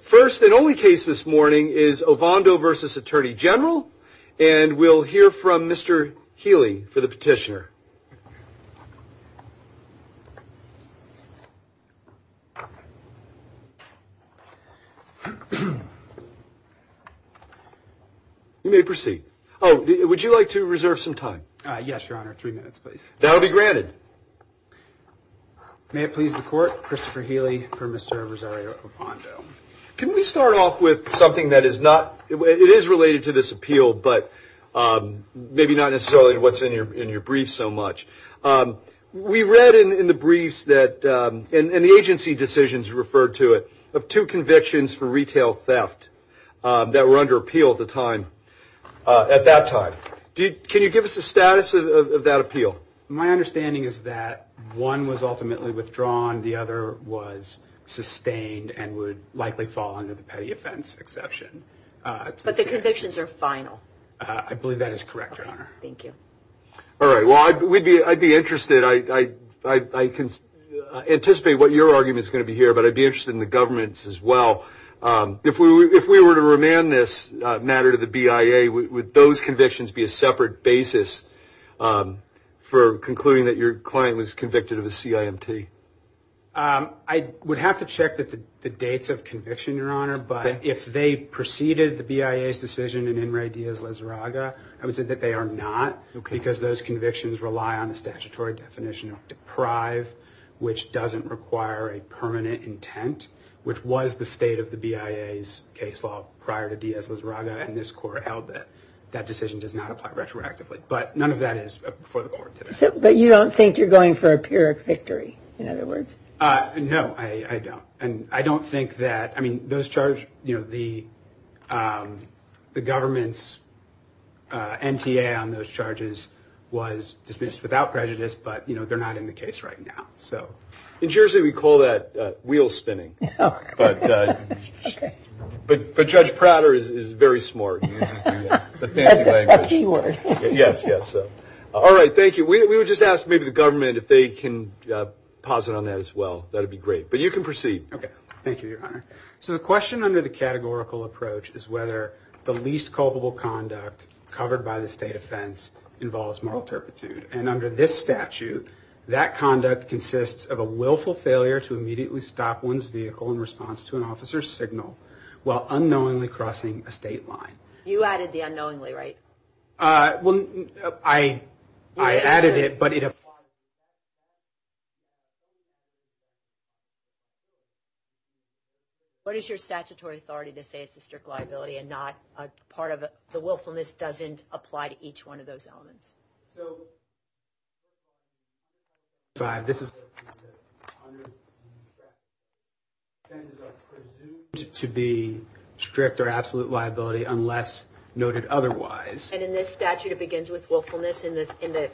First and only case this morning is Ovando v. Attorney General, and we'll hear from Mr. Healy for the petitioner. You may proceed. Oh, would you like to reserve some time? Yes, Your Honor. Three minutes, please. That will be granted. May it please the Court, Christopher Healy for Mr. Rosario Ovando. Can we start off with something that is not, it is related to this appeal, but maybe not necessarily what's in your brief so much. We read in the briefs that, and the agency decisions referred to it, of two convictions for retail theft that were under appeal at the time, at that time. Can you give us the status of that appeal? My understanding is that one was ultimately withdrawn, the other was sustained and would likely fall under the petty offense exception. But the convictions are final. I believe that is correct, Your Honor. Thank you. All right, well, I'd be interested, I anticipate what your argument is going to be here, but I'd be interested in the government's as well. If we were to remand this matter to the BIA, would those convictions be a separate basis for concluding that your client was convicted of a CIMT? I would have to check the dates of conviction, Your Honor. But if they preceded the BIA's decision in In re Diaz-Lizarraga, I would say that they are not. Because those convictions rely on a statutory definition of deprive, which doesn't require a permanent intent, which was the state of the BIA's case law prior to Diaz-Lizarraga, and this court held that that decision does not apply retroactively. But none of that is before the court today. But you don't think you're going for a pyrrhic victory, in other words? No, I don't. And I don't think that, I mean, those charges, you know, the government's NTA on those charges was dismissed without prejudice, but, you know, they're not in the case right now. In Jersey, we call that wheel spinning. But Judge Prater is very smart. He uses the fancy language. A key word. Yes, yes. All right, thank you. We would just ask maybe the government if they can posit on that as well. That would be great. But you can proceed. Thank you, Your Honor. So the question under the categorical approach is whether the least culpable conduct covered by the state offense involves moral turpitude. And under this statute, that conduct consists of a willful failure to immediately stop one's vehicle in response to an officer's signal while unknowingly crossing a state line. You added the unknowingly, right? Well, I added it, but it applies. What is your statutory authority to say it's a strict liability and not part of the willfulness doesn't apply to each one of those elements? So this is presumed to be strict or absolute liability unless noted otherwise. And in this statute, it begins with willfulness in the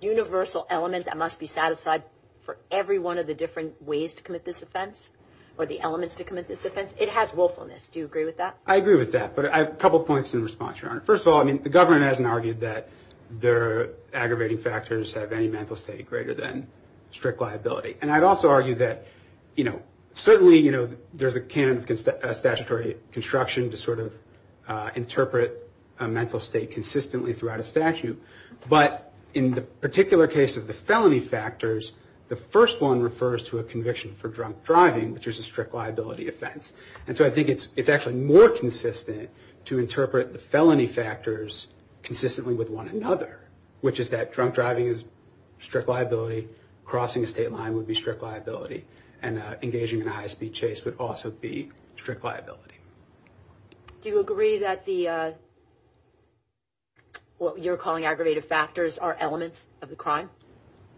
universal element that must be satisfied for every one of the different ways to commit this offense or the elements to commit this offense. It has willfulness. Do you agree with that? I agree with that. But I have a couple points in response, Your Honor. First of all, I mean, the government hasn't argued that the aggravating factors have any mental state greater than strict liability. And I'd also argue that, you know, certainly, you know, there's a canon of statutory construction to sort of interpret a mental state consistently throughout a statute. But in the particular case of the felony factors, the first one refers to a conviction for drunk driving, which is a strict liability offense. And so I think it's actually more consistent to interpret the felony factors consistently with one another, which is that drunk driving is strict liability, crossing a state line would be strict liability, and engaging in a high-speed chase would also be strict liability. Do you agree that the what you're calling aggravative factors are elements of the crime?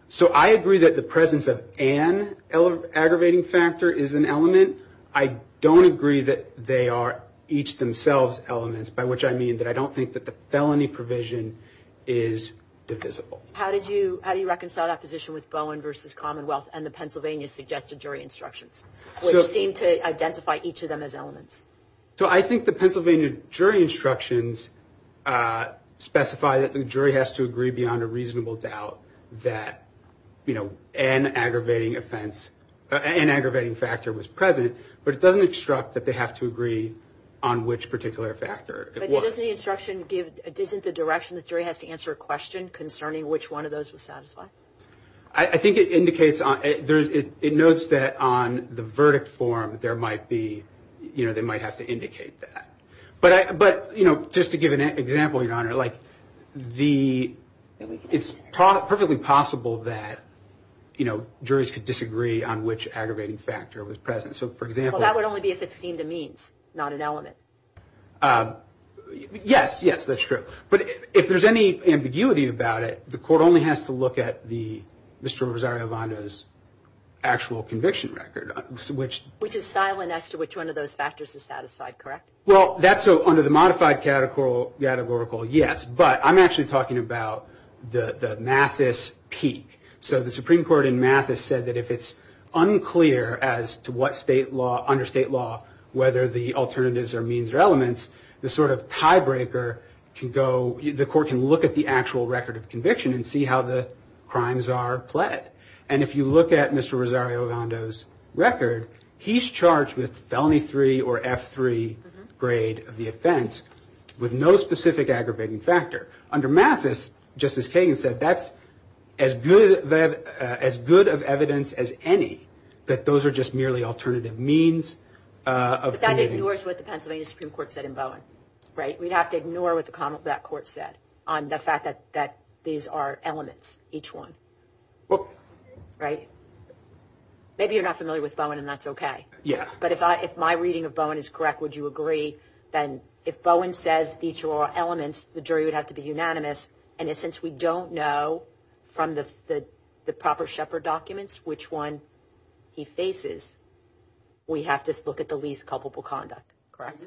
So I agree that the presence of an aggravating factor is an element. I don't agree that they are each themselves elements, by which I mean that I don't think that the felony provision is divisible. How do you reconcile that position with Bowen v. Commonwealth and the Pennsylvania suggested jury instructions, which seem to identify each of them as elements? So I think the Pennsylvania jury instructions specify that the jury has to agree beyond a reasonable doubt that, you know, an aggravating factor was present, but it doesn't instruct that they have to agree on which particular factor it was. But doesn't the instruction give, isn't the direction the jury has to answer a question concerning which one of those was satisfied? I think it indicates, it notes that on the verdict form there might be, you know, they might have to indicate that. But, you know, just to give an example, Your Honor, like the, it's perfectly possible that, you know, juries could disagree on which aggravating factor was present. So, for example. Well, that would only be if it seemed a means, not an element. Yes, yes, that's true. But if there's any ambiguity about it, the court only has to look at the Mr. Rosario Vonda's actual conviction record, which. Which is silent as to which one of those factors is satisfied, correct? Well, that's under the modified categorical, yes. But I'm actually talking about the Mathis peak. So the Supreme Court in Mathis said that if it's unclear as to what state law, under state law, whether the alternatives are means or elements, the sort of tiebreaker can go, the court can look at the actual record of conviction and see how the crimes are pled. And if you look at Mr. Rosario Vonda's record, he's charged with felony three or F3 grade of the offense with no specific aggravating factor. Under Mathis, Justice Kagan said that's as good of evidence as any, that those are just merely alternative means of. But that ignores what the Pennsylvania Supreme Court said in Bowen, right? We'd have to ignore what that court said on the fact that these are elements, each one. Right? Maybe you're not familiar with Bowen and that's okay. Yeah. But if my reading of Bowen is correct, would you agree that if Bowen says these are all elements, the jury would have to be unanimous, and since we don't know from the proper Shepard documents which one he faces, we have to look at the least culpable conduct, correct?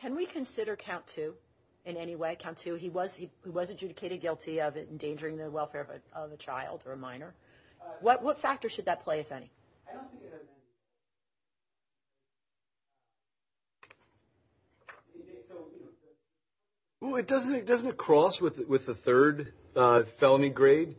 Can we consider Count Two in any way? Count Two, he was adjudicated guilty of endangering the welfare of a child or a minor. What factor should that play, if any? Well, doesn't it cross with the third felony grade?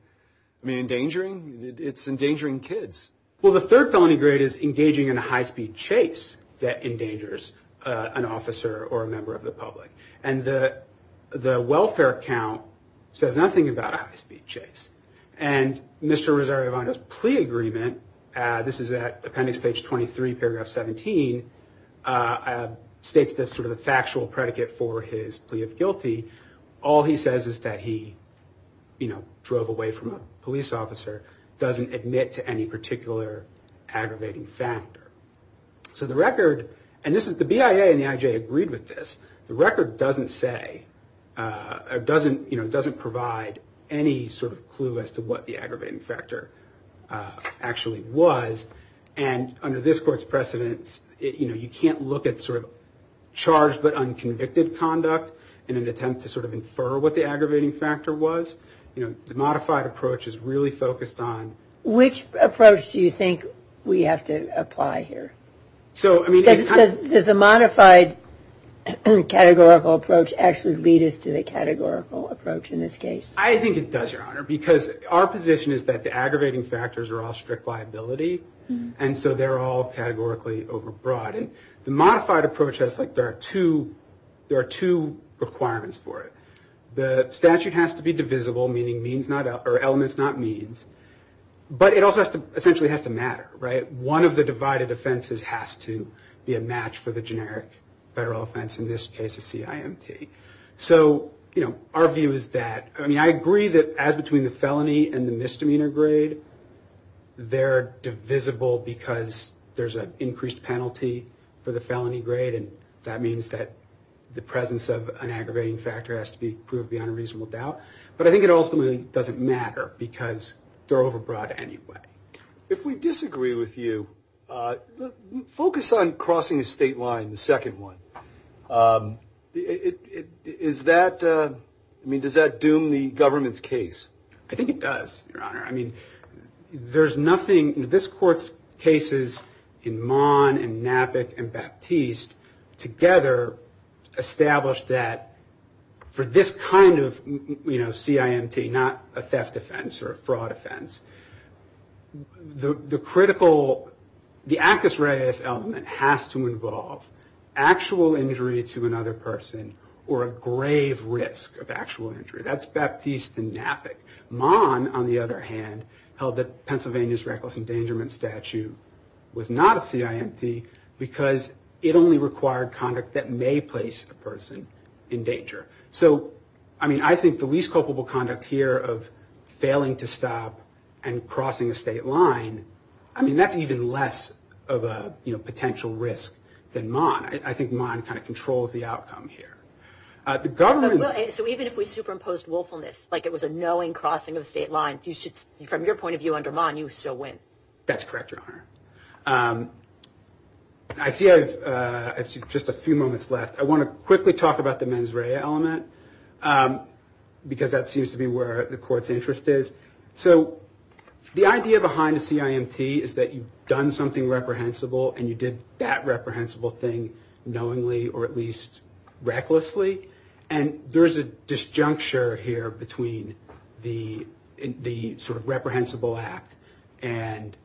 I mean, endangering? It's endangering kids. Well, the third felony grade is engaging in a high-speed chase that endangers an officer or a member of the public. And the welfare count says nothing about a high-speed chase. And Mr. Rosario Vanda's plea agreement, this is at appendix page 23, paragraph 17, states that sort of the factual predicate for his plea of guilty, all he says is that he, you know, aggravating factor. So the record, and this is the BIA and the IJ agreed with this, the record doesn't say, doesn't provide any sort of clue as to what the aggravating factor actually was. And under this court's precedence, you know, you can't look at sort of charged but unconvicted conduct in an attempt to sort of infer what the aggravating factor was. You know, the modified approach is really focused on... Do you think we have to apply here? So, I mean... Does the modified categorical approach actually lead us to the categorical approach in this case? I think it does, Your Honor, because our position is that the aggravating factors are all strict liability, and so they're all categorically overbroad. And the modified approach has, like, there are two requirements for it. The statute has to be divisible, meaning elements, not means. But it also essentially has to matter, right? One of the divided offenses has to be a match for the generic federal offense, in this case a CIMT. So, you know, our view is that... I mean, I agree that as between the felony and the misdemeanor grade, they're divisible because there's an increased penalty for the felony grade, and that means that the presence of an aggravating factor has to be proved beyond a reasonable doubt. But I think it ultimately doesn't matter because they're overbroad anyway. If we disagree with you, focus on crossing a state line, the second one. Is that... I mean, does that doom the government's case? I think it does, Your Honor. I mean, there's nothing... I mean, this Court's cases in Mahn, and Knappick, and Baptiste, together establish that for this kind of, you know, CIMT, not a theft offense or a fraud offense, the critical... the acus reus element has to involve actual injury to another person or a grave risk of actual injury. That's Baptiste and Knappick. Mahn, on the other hand, held that Pennsylvania's reckless endangerment statute was not a CIMT because it only required conduct that may place a person in danger. So, I mean, I think the least culpable conduct here of failing to stop and crossing a state line, I mean, that's even less of a potential risk than Mahn. I think Mahn kind of controls the outcome here. The government... you should... from your point of view under Mahn, you still win. That's correct, Your Honor. I see I have just a few moments left. I want to quickly talk about the mens rea element because that seems to be where the Court's interest is. So, the idea behind a CIMT is that you've done something reprehensible and you did that reprehensible thing knowingly or at least recklessly, and there's a disjuncture here between the sort of reprehensible act and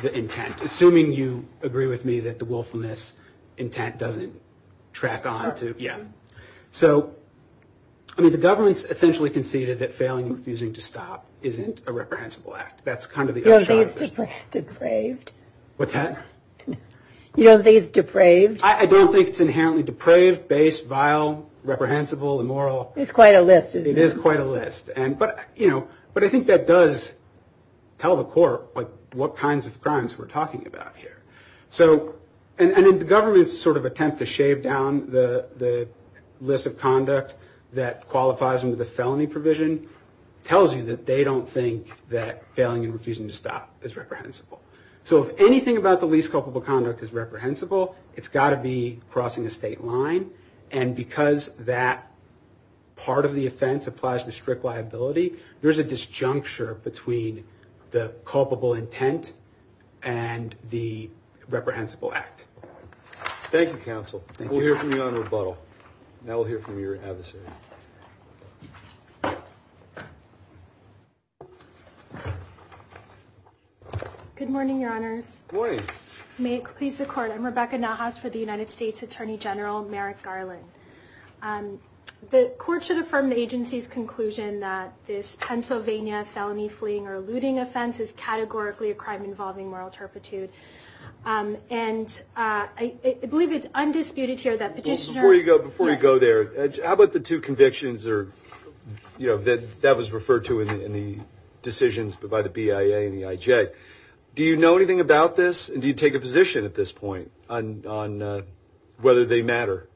the intent. Assuming you agree with me that the willfulness intent doesn't track on to... Yeah. So, I mean, the government's essentially conceded that failing and refusing to stop isn't a reprehensible act. That's kind of the... You don't think it's depraved? What's that? You don't think it's depraved? I don't think it's inherently depraved, base, vile, reprehensible, immoral. It's quite a list, isn't it? It is quite a list. But, you know, I think that does tell the Court what kinds of crimes we're talking about here. So, and the government's sort of attempt to shave down the list of conduct that qualifies under the felony provision tells you that they don't think that failing and refusing to stop is reprehensible. So if anything about the least culpable conduct is reprehensible, it's got to be crossing a state line. And because that part of the offense applies to strict liability, there's a disjuncture between the culpable intent and the reprehensible act. Thank you, counsel. Thank you. We'll hear from you on rebuttal. Now we'll hear from your advocate. Good morning, Your Honors. Good morning. May it please the Court. I'm Rebecca Nahas for the United States Attorney General Merrick Garland. The Court should affirm the agency's conclusion that this Pennsylvania felony fleeing or looting offense is categorically a crime involving moral turpitude. And I believe it's undisputed here that petitioners Before you go there, how about the two cases? That was referred to in the decisions by the BIA and the IJ. Do you know anything about this? And do you take a position at this point on whether they matter?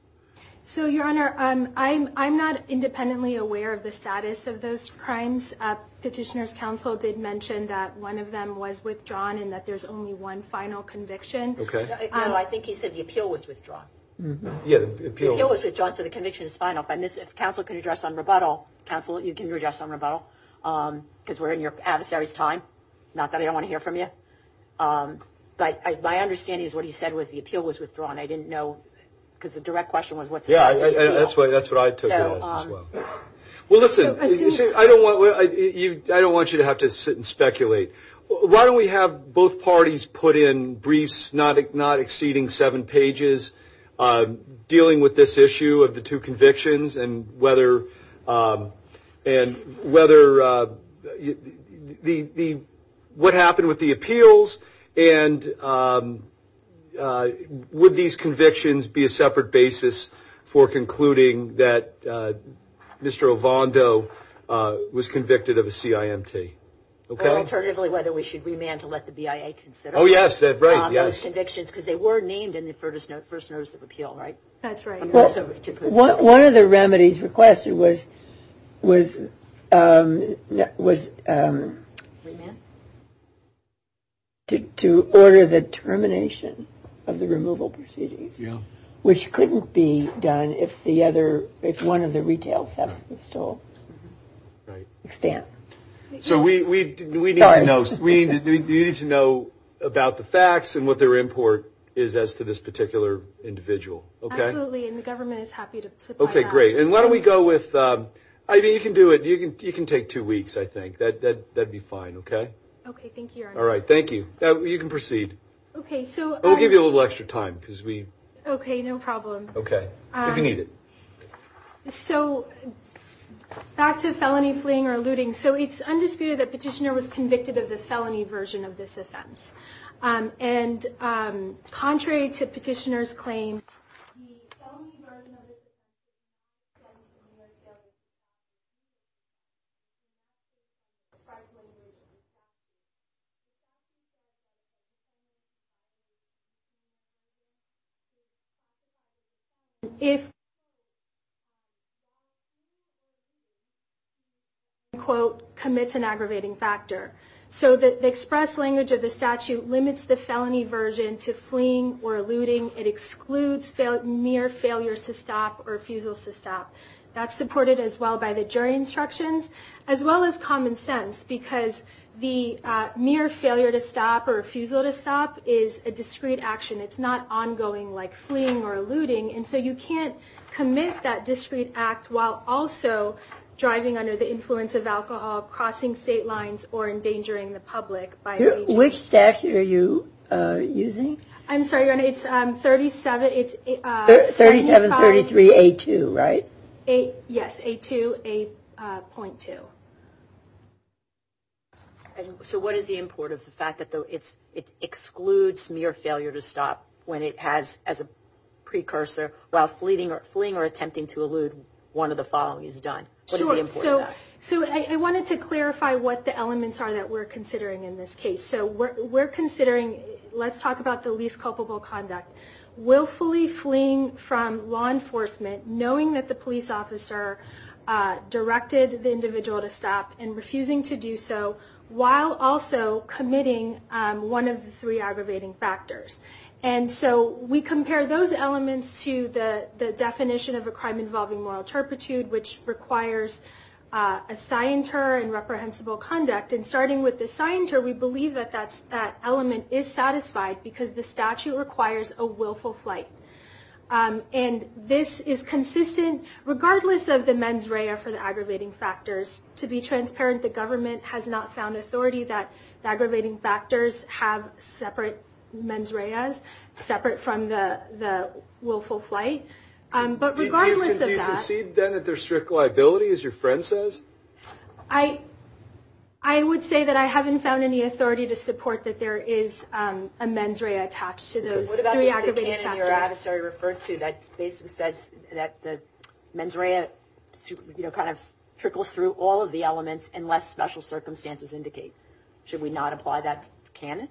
So, Your Honor, I'm not independently aware of the status of those crimes. Petitioners' counsel did mention that one of them was withdrawn and that there's only one final conviction. No, I think he said the appeal was withdrawn. Yeah, the appeal. The appeal was withdrawn, so the conviction is final. If counsel can address on rebuttal, counsel, you can address on rebuttal because we're in your adversary's time. Not that I don't want to hear from you. But my understanding is what he said was the appeal was withdrawn. I didn't know because the direct question was what status of the appeal. Yeah, that's what I took on as well. Well, listen, I don't want you to have to sit and speculate. Why don't we have both parties put in briefs not exceeding seven pages dealing with this issue of the two convictions and what happened with the appeals and would these convictions be a separate basis for concluding that Mr. Ovando was convicted of a CIMT? Alternatively, whether we should remand to let the BIA consider those convictions because they were named in the first notice of appeal, right? That's right. One of the remedies requested was to order the termination of the removal proceedings, which couldn't be done if one of the retail thefts was still extant. So we need to know about the facts and what their import is as to this particular individual. Absolutely, and the government is happy to supply that. Okay, great. And why don't we go with, I mean, you can do it. You can take two weeks, I think. That would be fine, okay? Okay, thank you, Your Honor. All right, thank you. You can proceed. We'll give you a little extra time. Okay, no problem. Okay, if you need it. So back to felony fleeing or looting. So it's undisputed that Petitioner was convicted of the felony version of this offense. The felony version of this offense is a murder of a person who is a part of a community. If the person, quote, commits an aggravating factor. So the express language of the statute limits the felony version to fleeing or looting. It excludes mere failures to stop or refusals to stop. That's supported as well by the jury instructions, as well as common sense. Because the mere failure to stop or refusal to stop is a discreet action. It's not ongoing like fleeing or looting. And so you can't commit that discreet act while also driving under the influence of alcohol, crossing state lines, or endangering the public. Which statute are you using? I'm sorry, it's 37... 3733A2, right? Yes, A2, 8.2. So what is the import of the fact that it excludes mere failure to stop when it has, as a precursor, while fleeing or attempting to elude one of the following is done? Sure, so I wanted to clarify what the elements are that we're considering in this case. So we're considering, let's talk about the least culpable conduct. Willfully fleeing from law enforcement, knowing that the police officer directed the individual to stop and refusing to do so, while also committing one of the three aggravating factors. And so we compare those elements to the definition of a crime involving moral turpitude, which requires a scienter and reprehensible conduct. And starting with the scienter, we believe that that element is satisfied because the statute requires a willful flight. And this is consistent regardless of the mens rea for the aggravating factors. To be transparent, the government has not found authority that the aggravating factors have separate mens reas, separate from the willful flight. But regardless of that... Do you perceive then that there's strict liability, as your friend says? I would say that I haven't found any authority to support that there is a mens rea attached to those three aggravating factors. What about the canon that you referred to that basically says that the mens rea kind of trickles through all of the elements unless special circumstances indicate? Should we not apply that canon?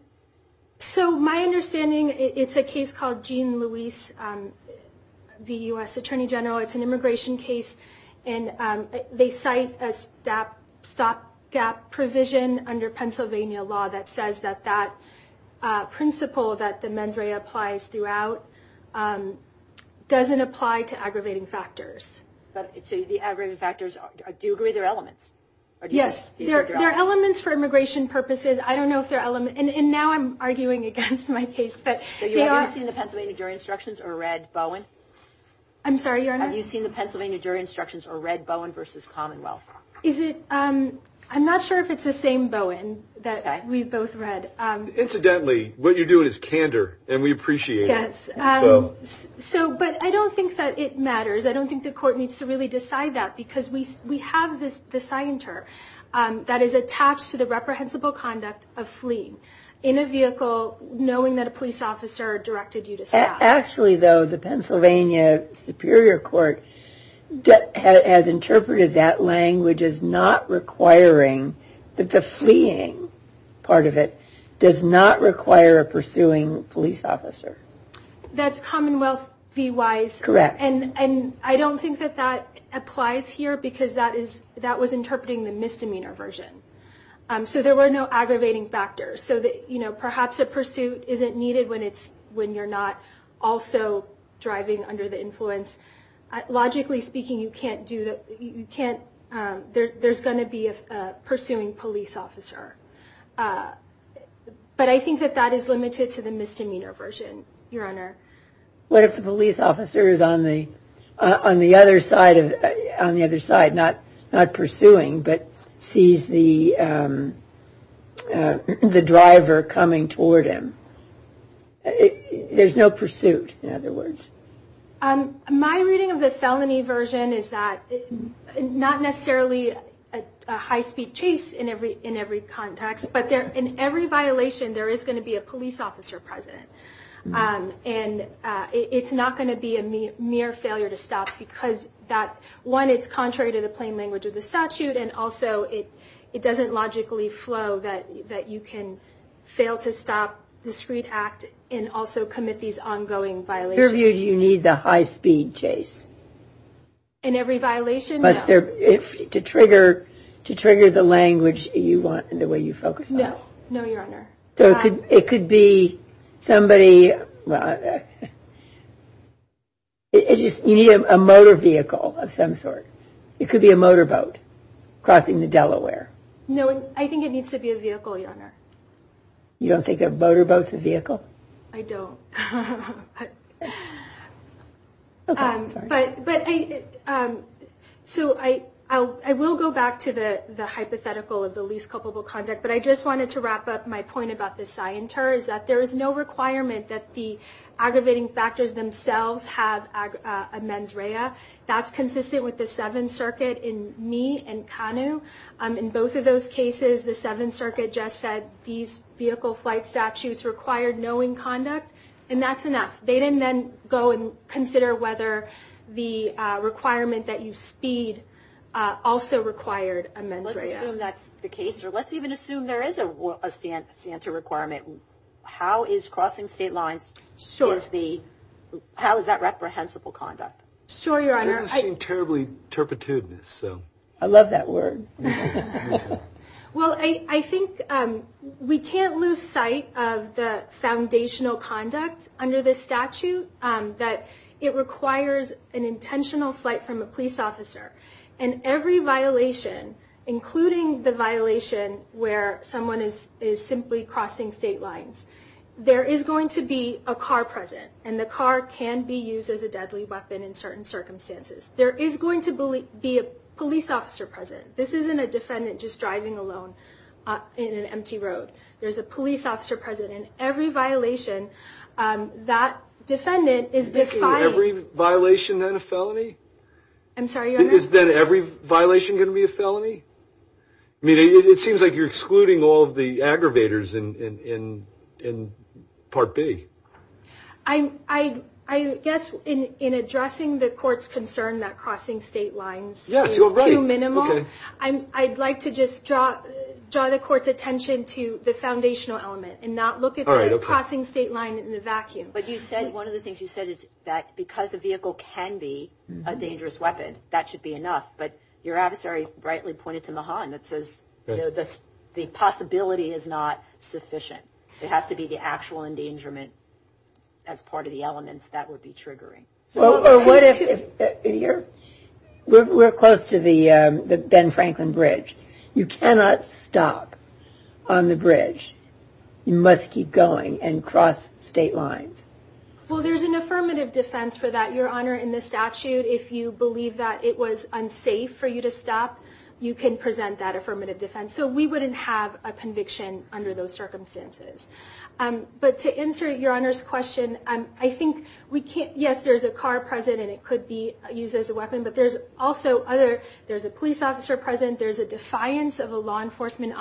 So my understanding, it's a case called Jean Louise v. U.S. Attorney General. It's an immigration case, and they cite a stopgap provision under Pennsylvania law that says that that principle that the mens rea applies throughout doesn't apply to aggravating factors. So the aggravating factors, do you agree they're elements? Yes, they're elements for immigration purposes. I don't know if they're elements... And now I'm arguing against my case, but... Have you seen the Pennsylvania jury instructions or read Bowen? I'm sorry, Your Honor? Have you seen the Pennsylvania jury instructions or read Bowen v. Commonwealth? I'm not sure if it's the same Bowen that we've both read. Incidentally, what you're doing is candor, and we appreciate it. But I don't think that it matters. I don't think the court needs to really decide that because we have the scienter that is attached to the reprehensible conduct of fleeing in a vehicle, knowing that a police officer directed you to stop. Actually, though, the Pennsylvania Superior Court has interpreted that language as not requiring that the fleeing part of it does not require a pursuing police officer. That's Commonwealth v. Wise? Correct. And I don't think that that applies here because that was interpreting the misdemeanor version. So there were no aggravating factors. So perhaps a pursuit isn't needed when you're not also driving under the influence. Logically speaking, you can't do that. There's going to be a pursuing police officer. But I think that that is limited to the misdemeanor version, Your Honor. What if the police officer is on the other side, not pursuing, but sees the driver coming toward him? There's no pursuit, in other words. My reading of the felony version is that not necessarily a high-speed chase in every context, but in every violation there is going to be a police officer present. And it's not going to be a mere failure to stop because, one, it's contrary to the plain language of the statute, and also it doesn't logically flow that you can fail to stop, discreet act, and also commit these ongoing violations. In your view, do you need the high-speed chase? In every violation, no. To trigger the language you want and the way you focus on it. No, Your Honor. So it could be somebody... You need a motor vehicle of some sort. It could be a motorboat crossing the Delaware. No, I think it needs to be a vehicle, Your Honor. You don't think a motorboat's a vehicle? I don't. Okay, I'm sorry. So I will go back to the hypothetical of the least culpable conduct, but I just wanted to wrap up my point about the scienter, is that there is no requirement that the aggravating factors themselves have a mens rea. That's consistent with the Seventh Circuit in me and Kanu. In both of those cases, the Seventh Circuit just said these vehicle flight statutes required knowing conduct, and that's enough. They didn't then go and consider whether the requirement that you speed also required a mens rea. Let's assume that's the case, or let's even assume there is a scienter requirement. How is crossing state lines, how is that reprehensible conduct? Sure, Your Honor. It doesn't seem terribly turpitude. I love that word. Well, I think we can't lose sight of the foundational conduct under this statute, that it requires an intentional flight from a police officer, and every violation, including the violation where someone is simply crossing state lines, there is going to be a car present, and the car can be used as a deadly weapon in certain circumstances. There is going to be a police officer present. This isn't a defendant just driving alone in an empty road. There's a police officer present in every violation. That defendant is defying... Is every violation then a felony? I'm sorry, Your Honor? Is then every violation going to be a felony? I mean, it seems like you're excluding all of the aggravators in Part B. I guess in addressing the court's concern that crossing state lines is too minimal, I'd like to just draw the court's attention to the foundational element and not look at the crossing state line in the vacuum. But you said, one of the things you said is that because a vehicle can be a dangerous weapon, that should be enough. But your adversary rightly pointed to Mahan that says the possibility is not sufficient. It has to be the actual endangerment as part of the elements that would be triggering. We're close to the Ben Franklin Bridge. You cannot stop on the bridge. You must keep going and cross state lines. Well, there's an affirmative defense for that, Your Honor, in the statute. If you believe that it was unsafe for you to stop, you can present that affirmative defense. So we wouldn't have a conviction under those circumstances. But to answer Your Honor's question, I think we can't... There's a car present, and it could be used as a weapon, but there's also other... There's a police officer present. There's a defiance of a law enforcement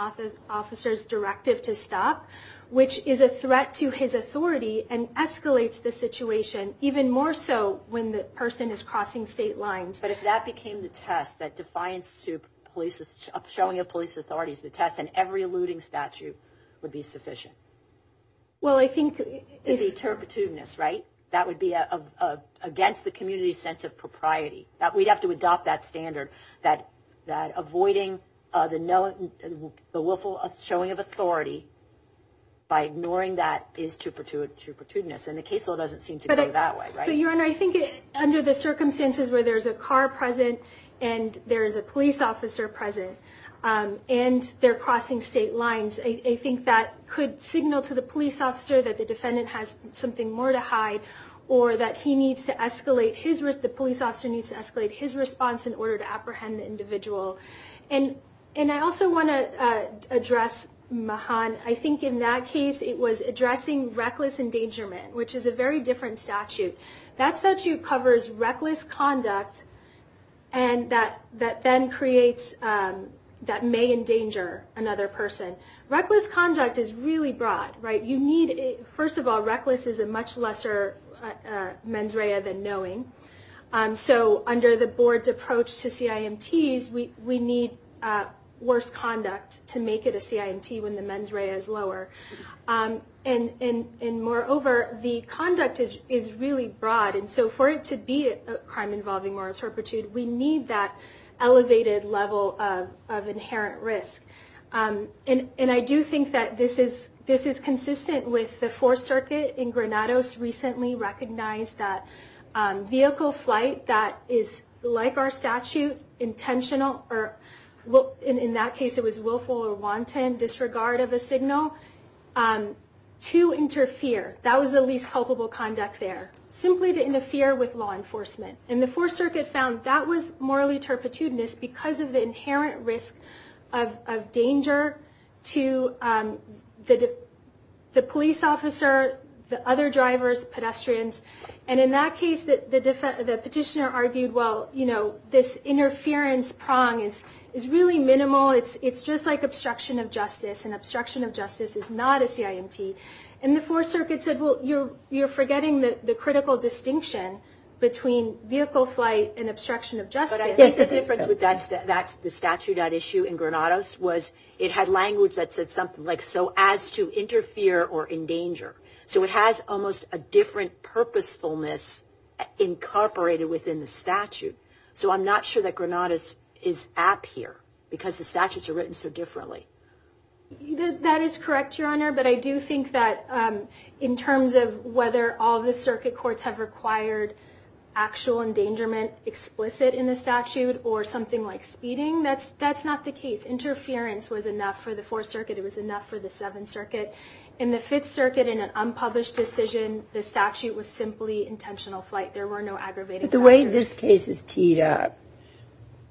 officer's directive to stop, which is a threat to his authority and escalates the situation, even more so when the person is crossing state lines. But if that became the test, that defiance to police, showing of police authorities, the test in every alluding statute would be sufficient. Well, I think... Maybe turpitudinous, right? That would be against the community's sense of propriety. We'd have to adopt that standard, that avoiding the willful showing of authority by ignoring that is turpitudinous. And the case law doesn't seem to go that way, right? But, Your Honor, I think under the circumstances where there's a car present and there's a police officer present and they're crossing state lines, I think that could signal to the police officer that the defendant has something more to hide or that he needs to escalate his... The police officer needs to escalate his response in order to apprehend the individual. And I also want to address Mahan. I think in that case it was addressing reckless endangerment, which is a very different statute. That statute covers reckless conduct that then creates... Reckless conduct is really broad, right? You need... First of all, reckless is a much lesser mens rea than knowing. So under the board's approach to CIMTs, we need worse conduct to make it a CIMT when the mens rea is lower. And moreover, the conduct is really broad. And so for it to be a crime involving moral turpitude, we need that elevated level of inherent risk. And I do think that this is consistent with the Fourth Circuit in Granados recently recognized that vehicle flight that is like our statute, intentional or in that case it was willful or wanton disregard of a signal, to interfere. That was the least culpable conduct there. Simply to interfere with law enforcement. And the Fourth Circuit found that was morally turpitude because of the inherent risk of danger to the police officer, the other drivers, pedestrians. And in that case, the petitioner argued, well, you know, this interference prong is really minimal. It's just like obstruction of justice. And obstruction of justice is not a CIMT. And the Fourth Circuit said, and obstruction of justice. That's the statute at issue in Granados was it had language that said something like so as to interfere or endanger. So it has almost a different purposefulness incorporated within the statute. So I'm not sure that Granados is app here because the statutes are written so differently. That is correct, Your Honor. But I do think that in terms of whether all the circuit courts have required actual endangerment explicit in the statute or something like speeding, that's not the case. Interference was enough for the Fourth Circuit. It was enough for the Seventh Circuit. In the Fifth Circuit, in an unpublished decision, the statute was simply intentional flight. There were no aggravating factors. The way this case is teed up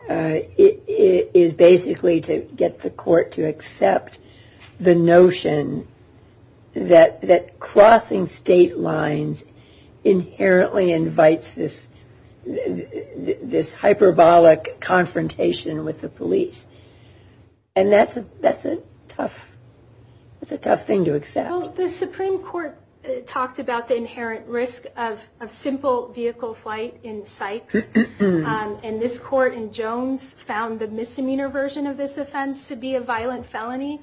is basically to get the court to accept the notion that crossing state lines inherently invites this hyperbolic confrontation with the police. And that's a tough thing to accept. Well, the Supreme Court talked about the inherent risk of simple vehicle flight in Sykes. And this court in Jones found the misdemeanor version of this offense to be a violent felony,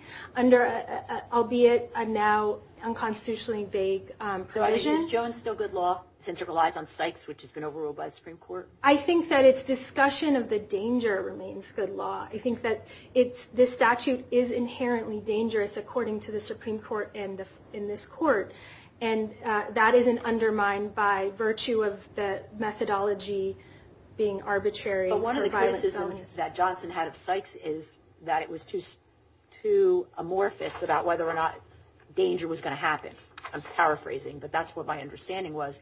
albeit a now unconstitutionally vague provision. Is Jones still good law since it relies on Sykes, which has been overruled by the Supreme Court? I think that its discussion of the danger remains good law. I think that this statute is inherently dangerous, according to the Supreme Court and in this court. And that isn't undermined by virtue of the methodology being arbitrary. One of the criticisms that Johnson had of Sykes is that it was too amorphous about whether or not danger was going to happen. I'm paraphrasing, but that's what my understanding was.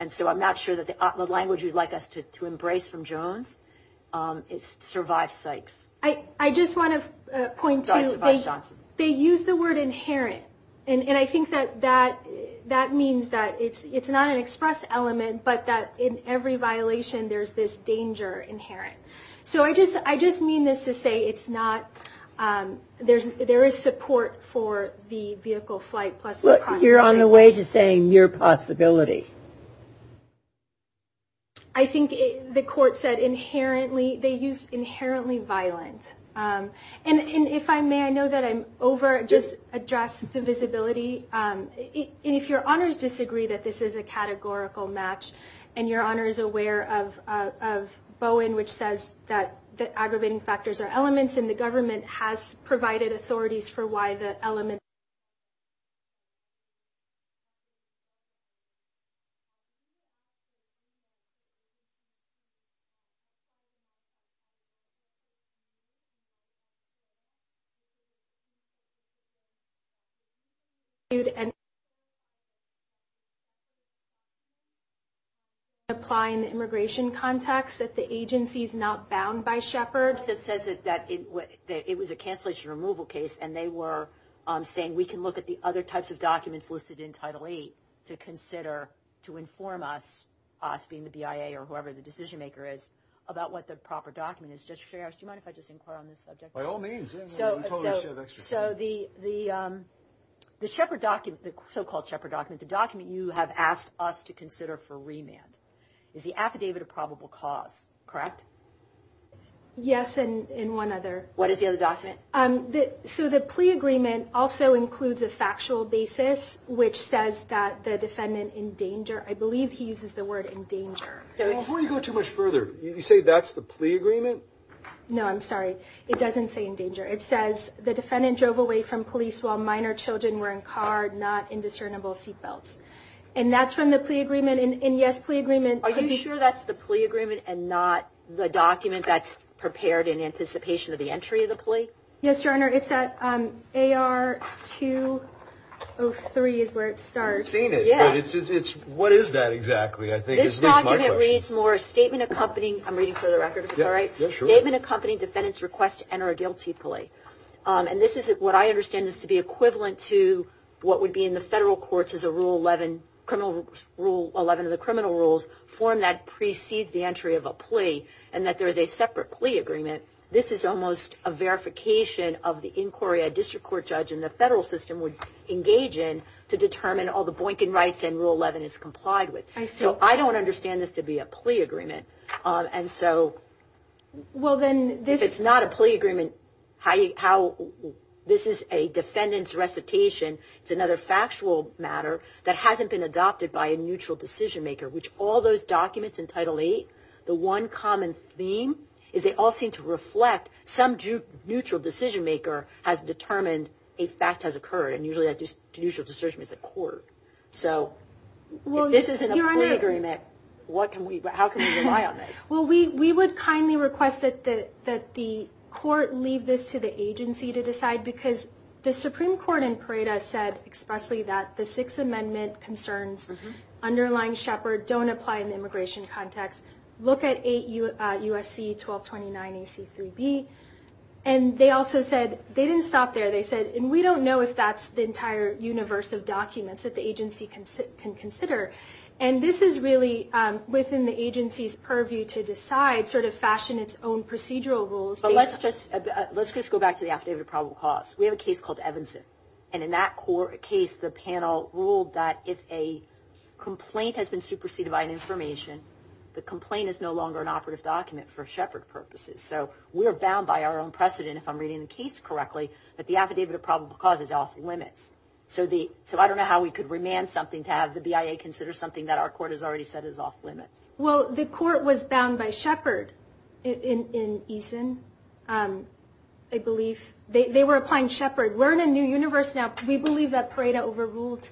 And so I'm not sure that the language you'd like us to embrace from Jones is to survive Sykes. I just want to point to they use the word inherent. And I think that that means that it's not an express element, but that in every violation there's this danger inherent. So I just mean this to say there is support for the vehicle flight. You're on the way to saying mere possibility. I think the court said inherently. They used inherently violent. And if I may, I know that I over-addressed the visibility. And if your honors disagree that this is a categorical match and your honor is aware of Bowen, which says that aggravating factors are elements, and the government has provided authorities for why the elements. And applying the immigration context that the agency is not bound by Shepard. It says that it was a cancellation removal case, and they were saying we can look at the other types of documents listed in Title VIII to consider to inform us, us being the BIA or whoever the decision maker is, about what the proper document is. Do you mind if I just inquire on this subject? By all means. So the Shepard document, the so-called Shepard document, the document you have asked us to consider for remand, is the affidavit of probable cause, correct? Yes, and one other. What is the other document? So the plea agreement also includes a factual basis, which says that the defendant in danger, I believe he uses the word in danger. Before you go too much further, you say that's the plea agreement? No, I'm sorry. It doesn't say in danger. It says the defendant drove away from police while minor children were in car, not in discernible seatbelts. And that's from the plea agreement. And, yes, plea agreement. Are you sure that's the plea agreement and not the document that's prepared in anticipation of the entry of the plea? Yes, Your Honor. It's at AR 203 is where it starts. I've seen it, but what is that exactly? I think it's my question. This document reads more statement accompanying, I'm reading for the record if it's all right. Yeah, sure. Statement accompanying defendant's request to enter a guilty plea. And this is what I understand is to be equivalent to what would be in the federal courts as a Rule 11 of the criminal rules form that precedes the entry of a plea and that there is a separate plea agreement. This is almost a verification of the inquiry a district court judge in the federal system would engage in to determine all the Boykin rights and Rule 11 is complied with. So I don't understand this to be a plea agreement. If it's not a plea agreement, this is a defendant's recitation. It's another factual matter that hasn't been adopted by a neutral decision maker, which all those documents in Title VIII, the one common theme, is they all seem to reflect some neutral decision maker has determined a fact has occurred and usually that neutral decision is a court. So if this isn't a plea agreement, how can we rely on this? Well, we would kindly request that the court leave this to the agency to decide because the Supreme Court in Pareto said expressly that the Sixth Amendment concerns underlying Shepard don't apply in the immigration context. Look at USC 1229 AC3B. And they also said they didn't stop there. They said, and we don't know if that's the entire universe of documents that the agency can consider. And this is really within the agency's purview to decide, sort of fashion its own procedural rules. But let's just go back to the affidavit of probable cause. We have a case called Evanson. And in that case, the panel ruled that if a complaint has been superseded by an information, the complaint is no longer an operative document for Shepard purposes. So we are bound by our own precedent, if I'm reading the case correctly, that the affidavit of probable cause is off limits. So I don't know how we could remand something to have the BIA consider something that our court has already said is off limits. Well, the court was bound by Shepard in Eason, I believe. They were applying Shepard. We're in a new universe now. We believe that Pareto overruled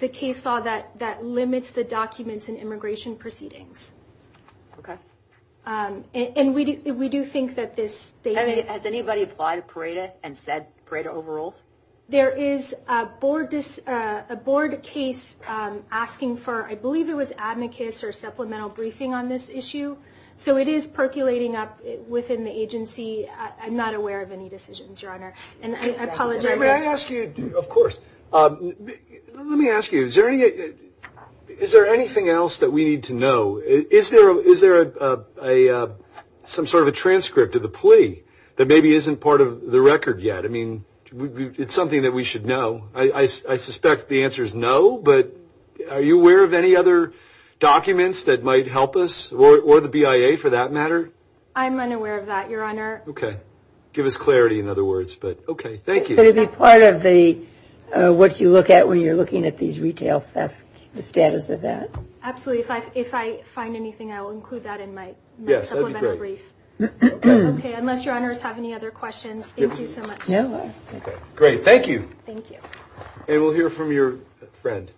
the case law that limits the documents in immigration proceedings. Okay. And we do think that this statement... Has anybody applied to Pareto and said Pareto overrules? There is a board case asking for, I believe it was amicus or supplemental briefing on this issue. So it is percolating up within the agency. I'm not aware of any decisions, Your Honor. And I apologize. May I ask you, of course, let me ask you, is there anything else that we need to know? Is there some sort of a transcript of the plea that maybe isn't part of the record yet? I mean, it's something that we should know. I suspect the answer is no, but are you aware of any other documents that might help us, or the BIA for that matter? I'm unaware of that, Your Honor. Okay. Give us clarity, in other words. Okay. Thank you. Could it be part of what you look at when you're looking at these retail thefts, the status of that? Absolutely. If I find anything, I will include that in my supplemental brief. Yes, that would be great. Okay. Unless Your Honors have any other questions, thank you so much. No. Okay. Great. Thank you. Thank you. And we'll hear from your friend.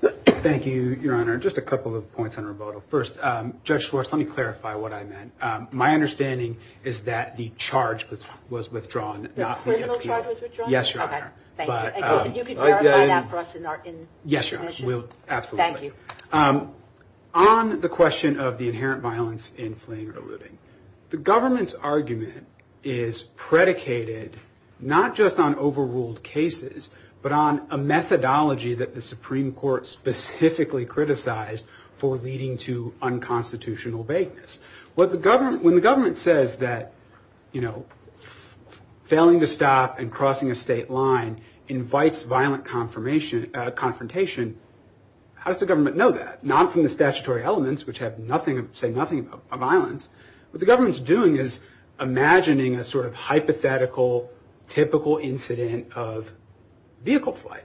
Thank you, Your Honor. Just a couple of points on Roboto. First, Judge Schwartz, let me clarify what I meant. My understanding is that the charge was withdrawn, not the appeal. The criminal charge was withdrawn? Yes, Your Honor. Thank you. And you can clarify that for us in our commission? Yes, Your Honor. Absolutely. Thank you. On the question of the inherent violence in fleeing or looting, the government's argument is predicated not just on overruled cases, but on a methodology that the Supreme Court specifically criticized for leading to unconstitutional vagueness. When the government says that, you know, failing to stop and crossing a state line invites violent confrontation, how does the government know that? Not from the statutory elements, which say nothing about violence. What the government's doing is imagining a sort of hypothetical, typical incident of vehicle flight.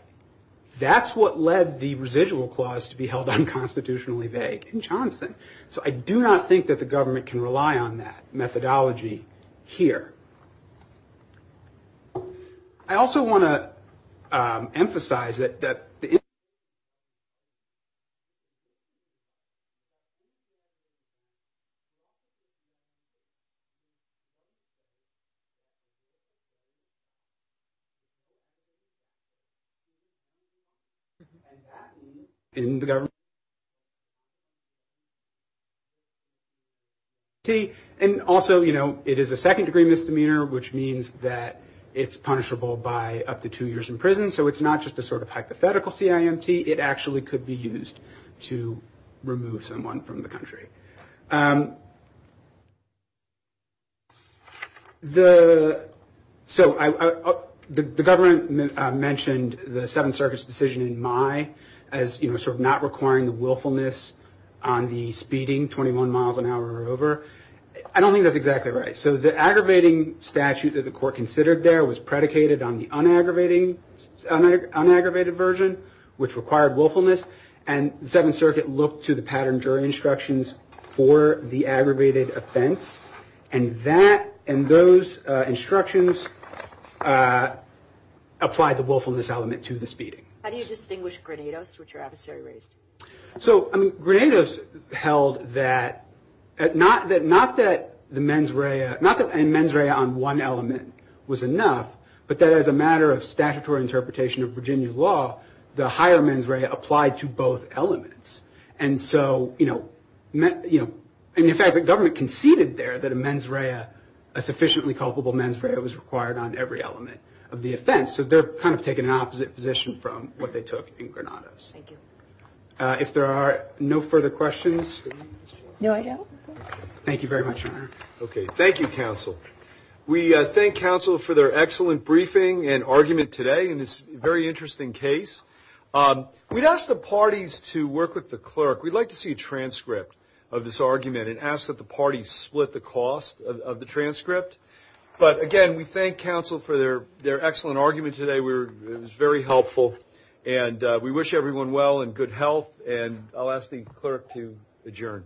That's what led the residual clause to be held unconstitutionally vague in Johnson. So I do not think that the government can rely on that methodology here. I also want to emphasize that the inherent violence in fleeing And also, you know, it is a second-degree misdemeanor, which means that it's punishable by up to two years in prison. So it's not just a sort of hypothetical CIMT. It actually could be used to remove someone from the country. So the government mentioned the Seventh Circuit's decision in May as, you know, sort of not requiring the willfulness on the speeding 21 miles an hour or over. I don't think that's exactly right. So the aggravating statute that the court considered there was predicated on the unaggravated version, which required willfulness. And the Seventh Circuit looked to the pattern jury instructions for the aggravated offense. How do you distinguish Grenados, which are adversary raised? So, I mean, Grenados held that not that the mens rea, not that a mens rea on one element was enough, but that as a matter of statutory interpretation of Virginia law, the higher mens rea applied to both elements. And so, you know, in fact, the government conceded there that a mens rea, a sufficiently culpable mens rea was required on every element of the offense. So they're kind of taking an opposite position from what they took in Grenados. Thank you. If there are no further questions. No, I don't. Okay. Thank you very much, Your Honor. Okay. Thank you, counsel. We thank counsel for their excellent briefing and argument today in this very interesting case. We'd ask the parties to work with the clerk. We'd like to see a transcript of this argument and ask that the parties split the cost of the transcript. But, again, we thank counsel for their excellent argument today. It was very helpful. And we wish everyone well and good health. And I'll ask the clerk to adjourn.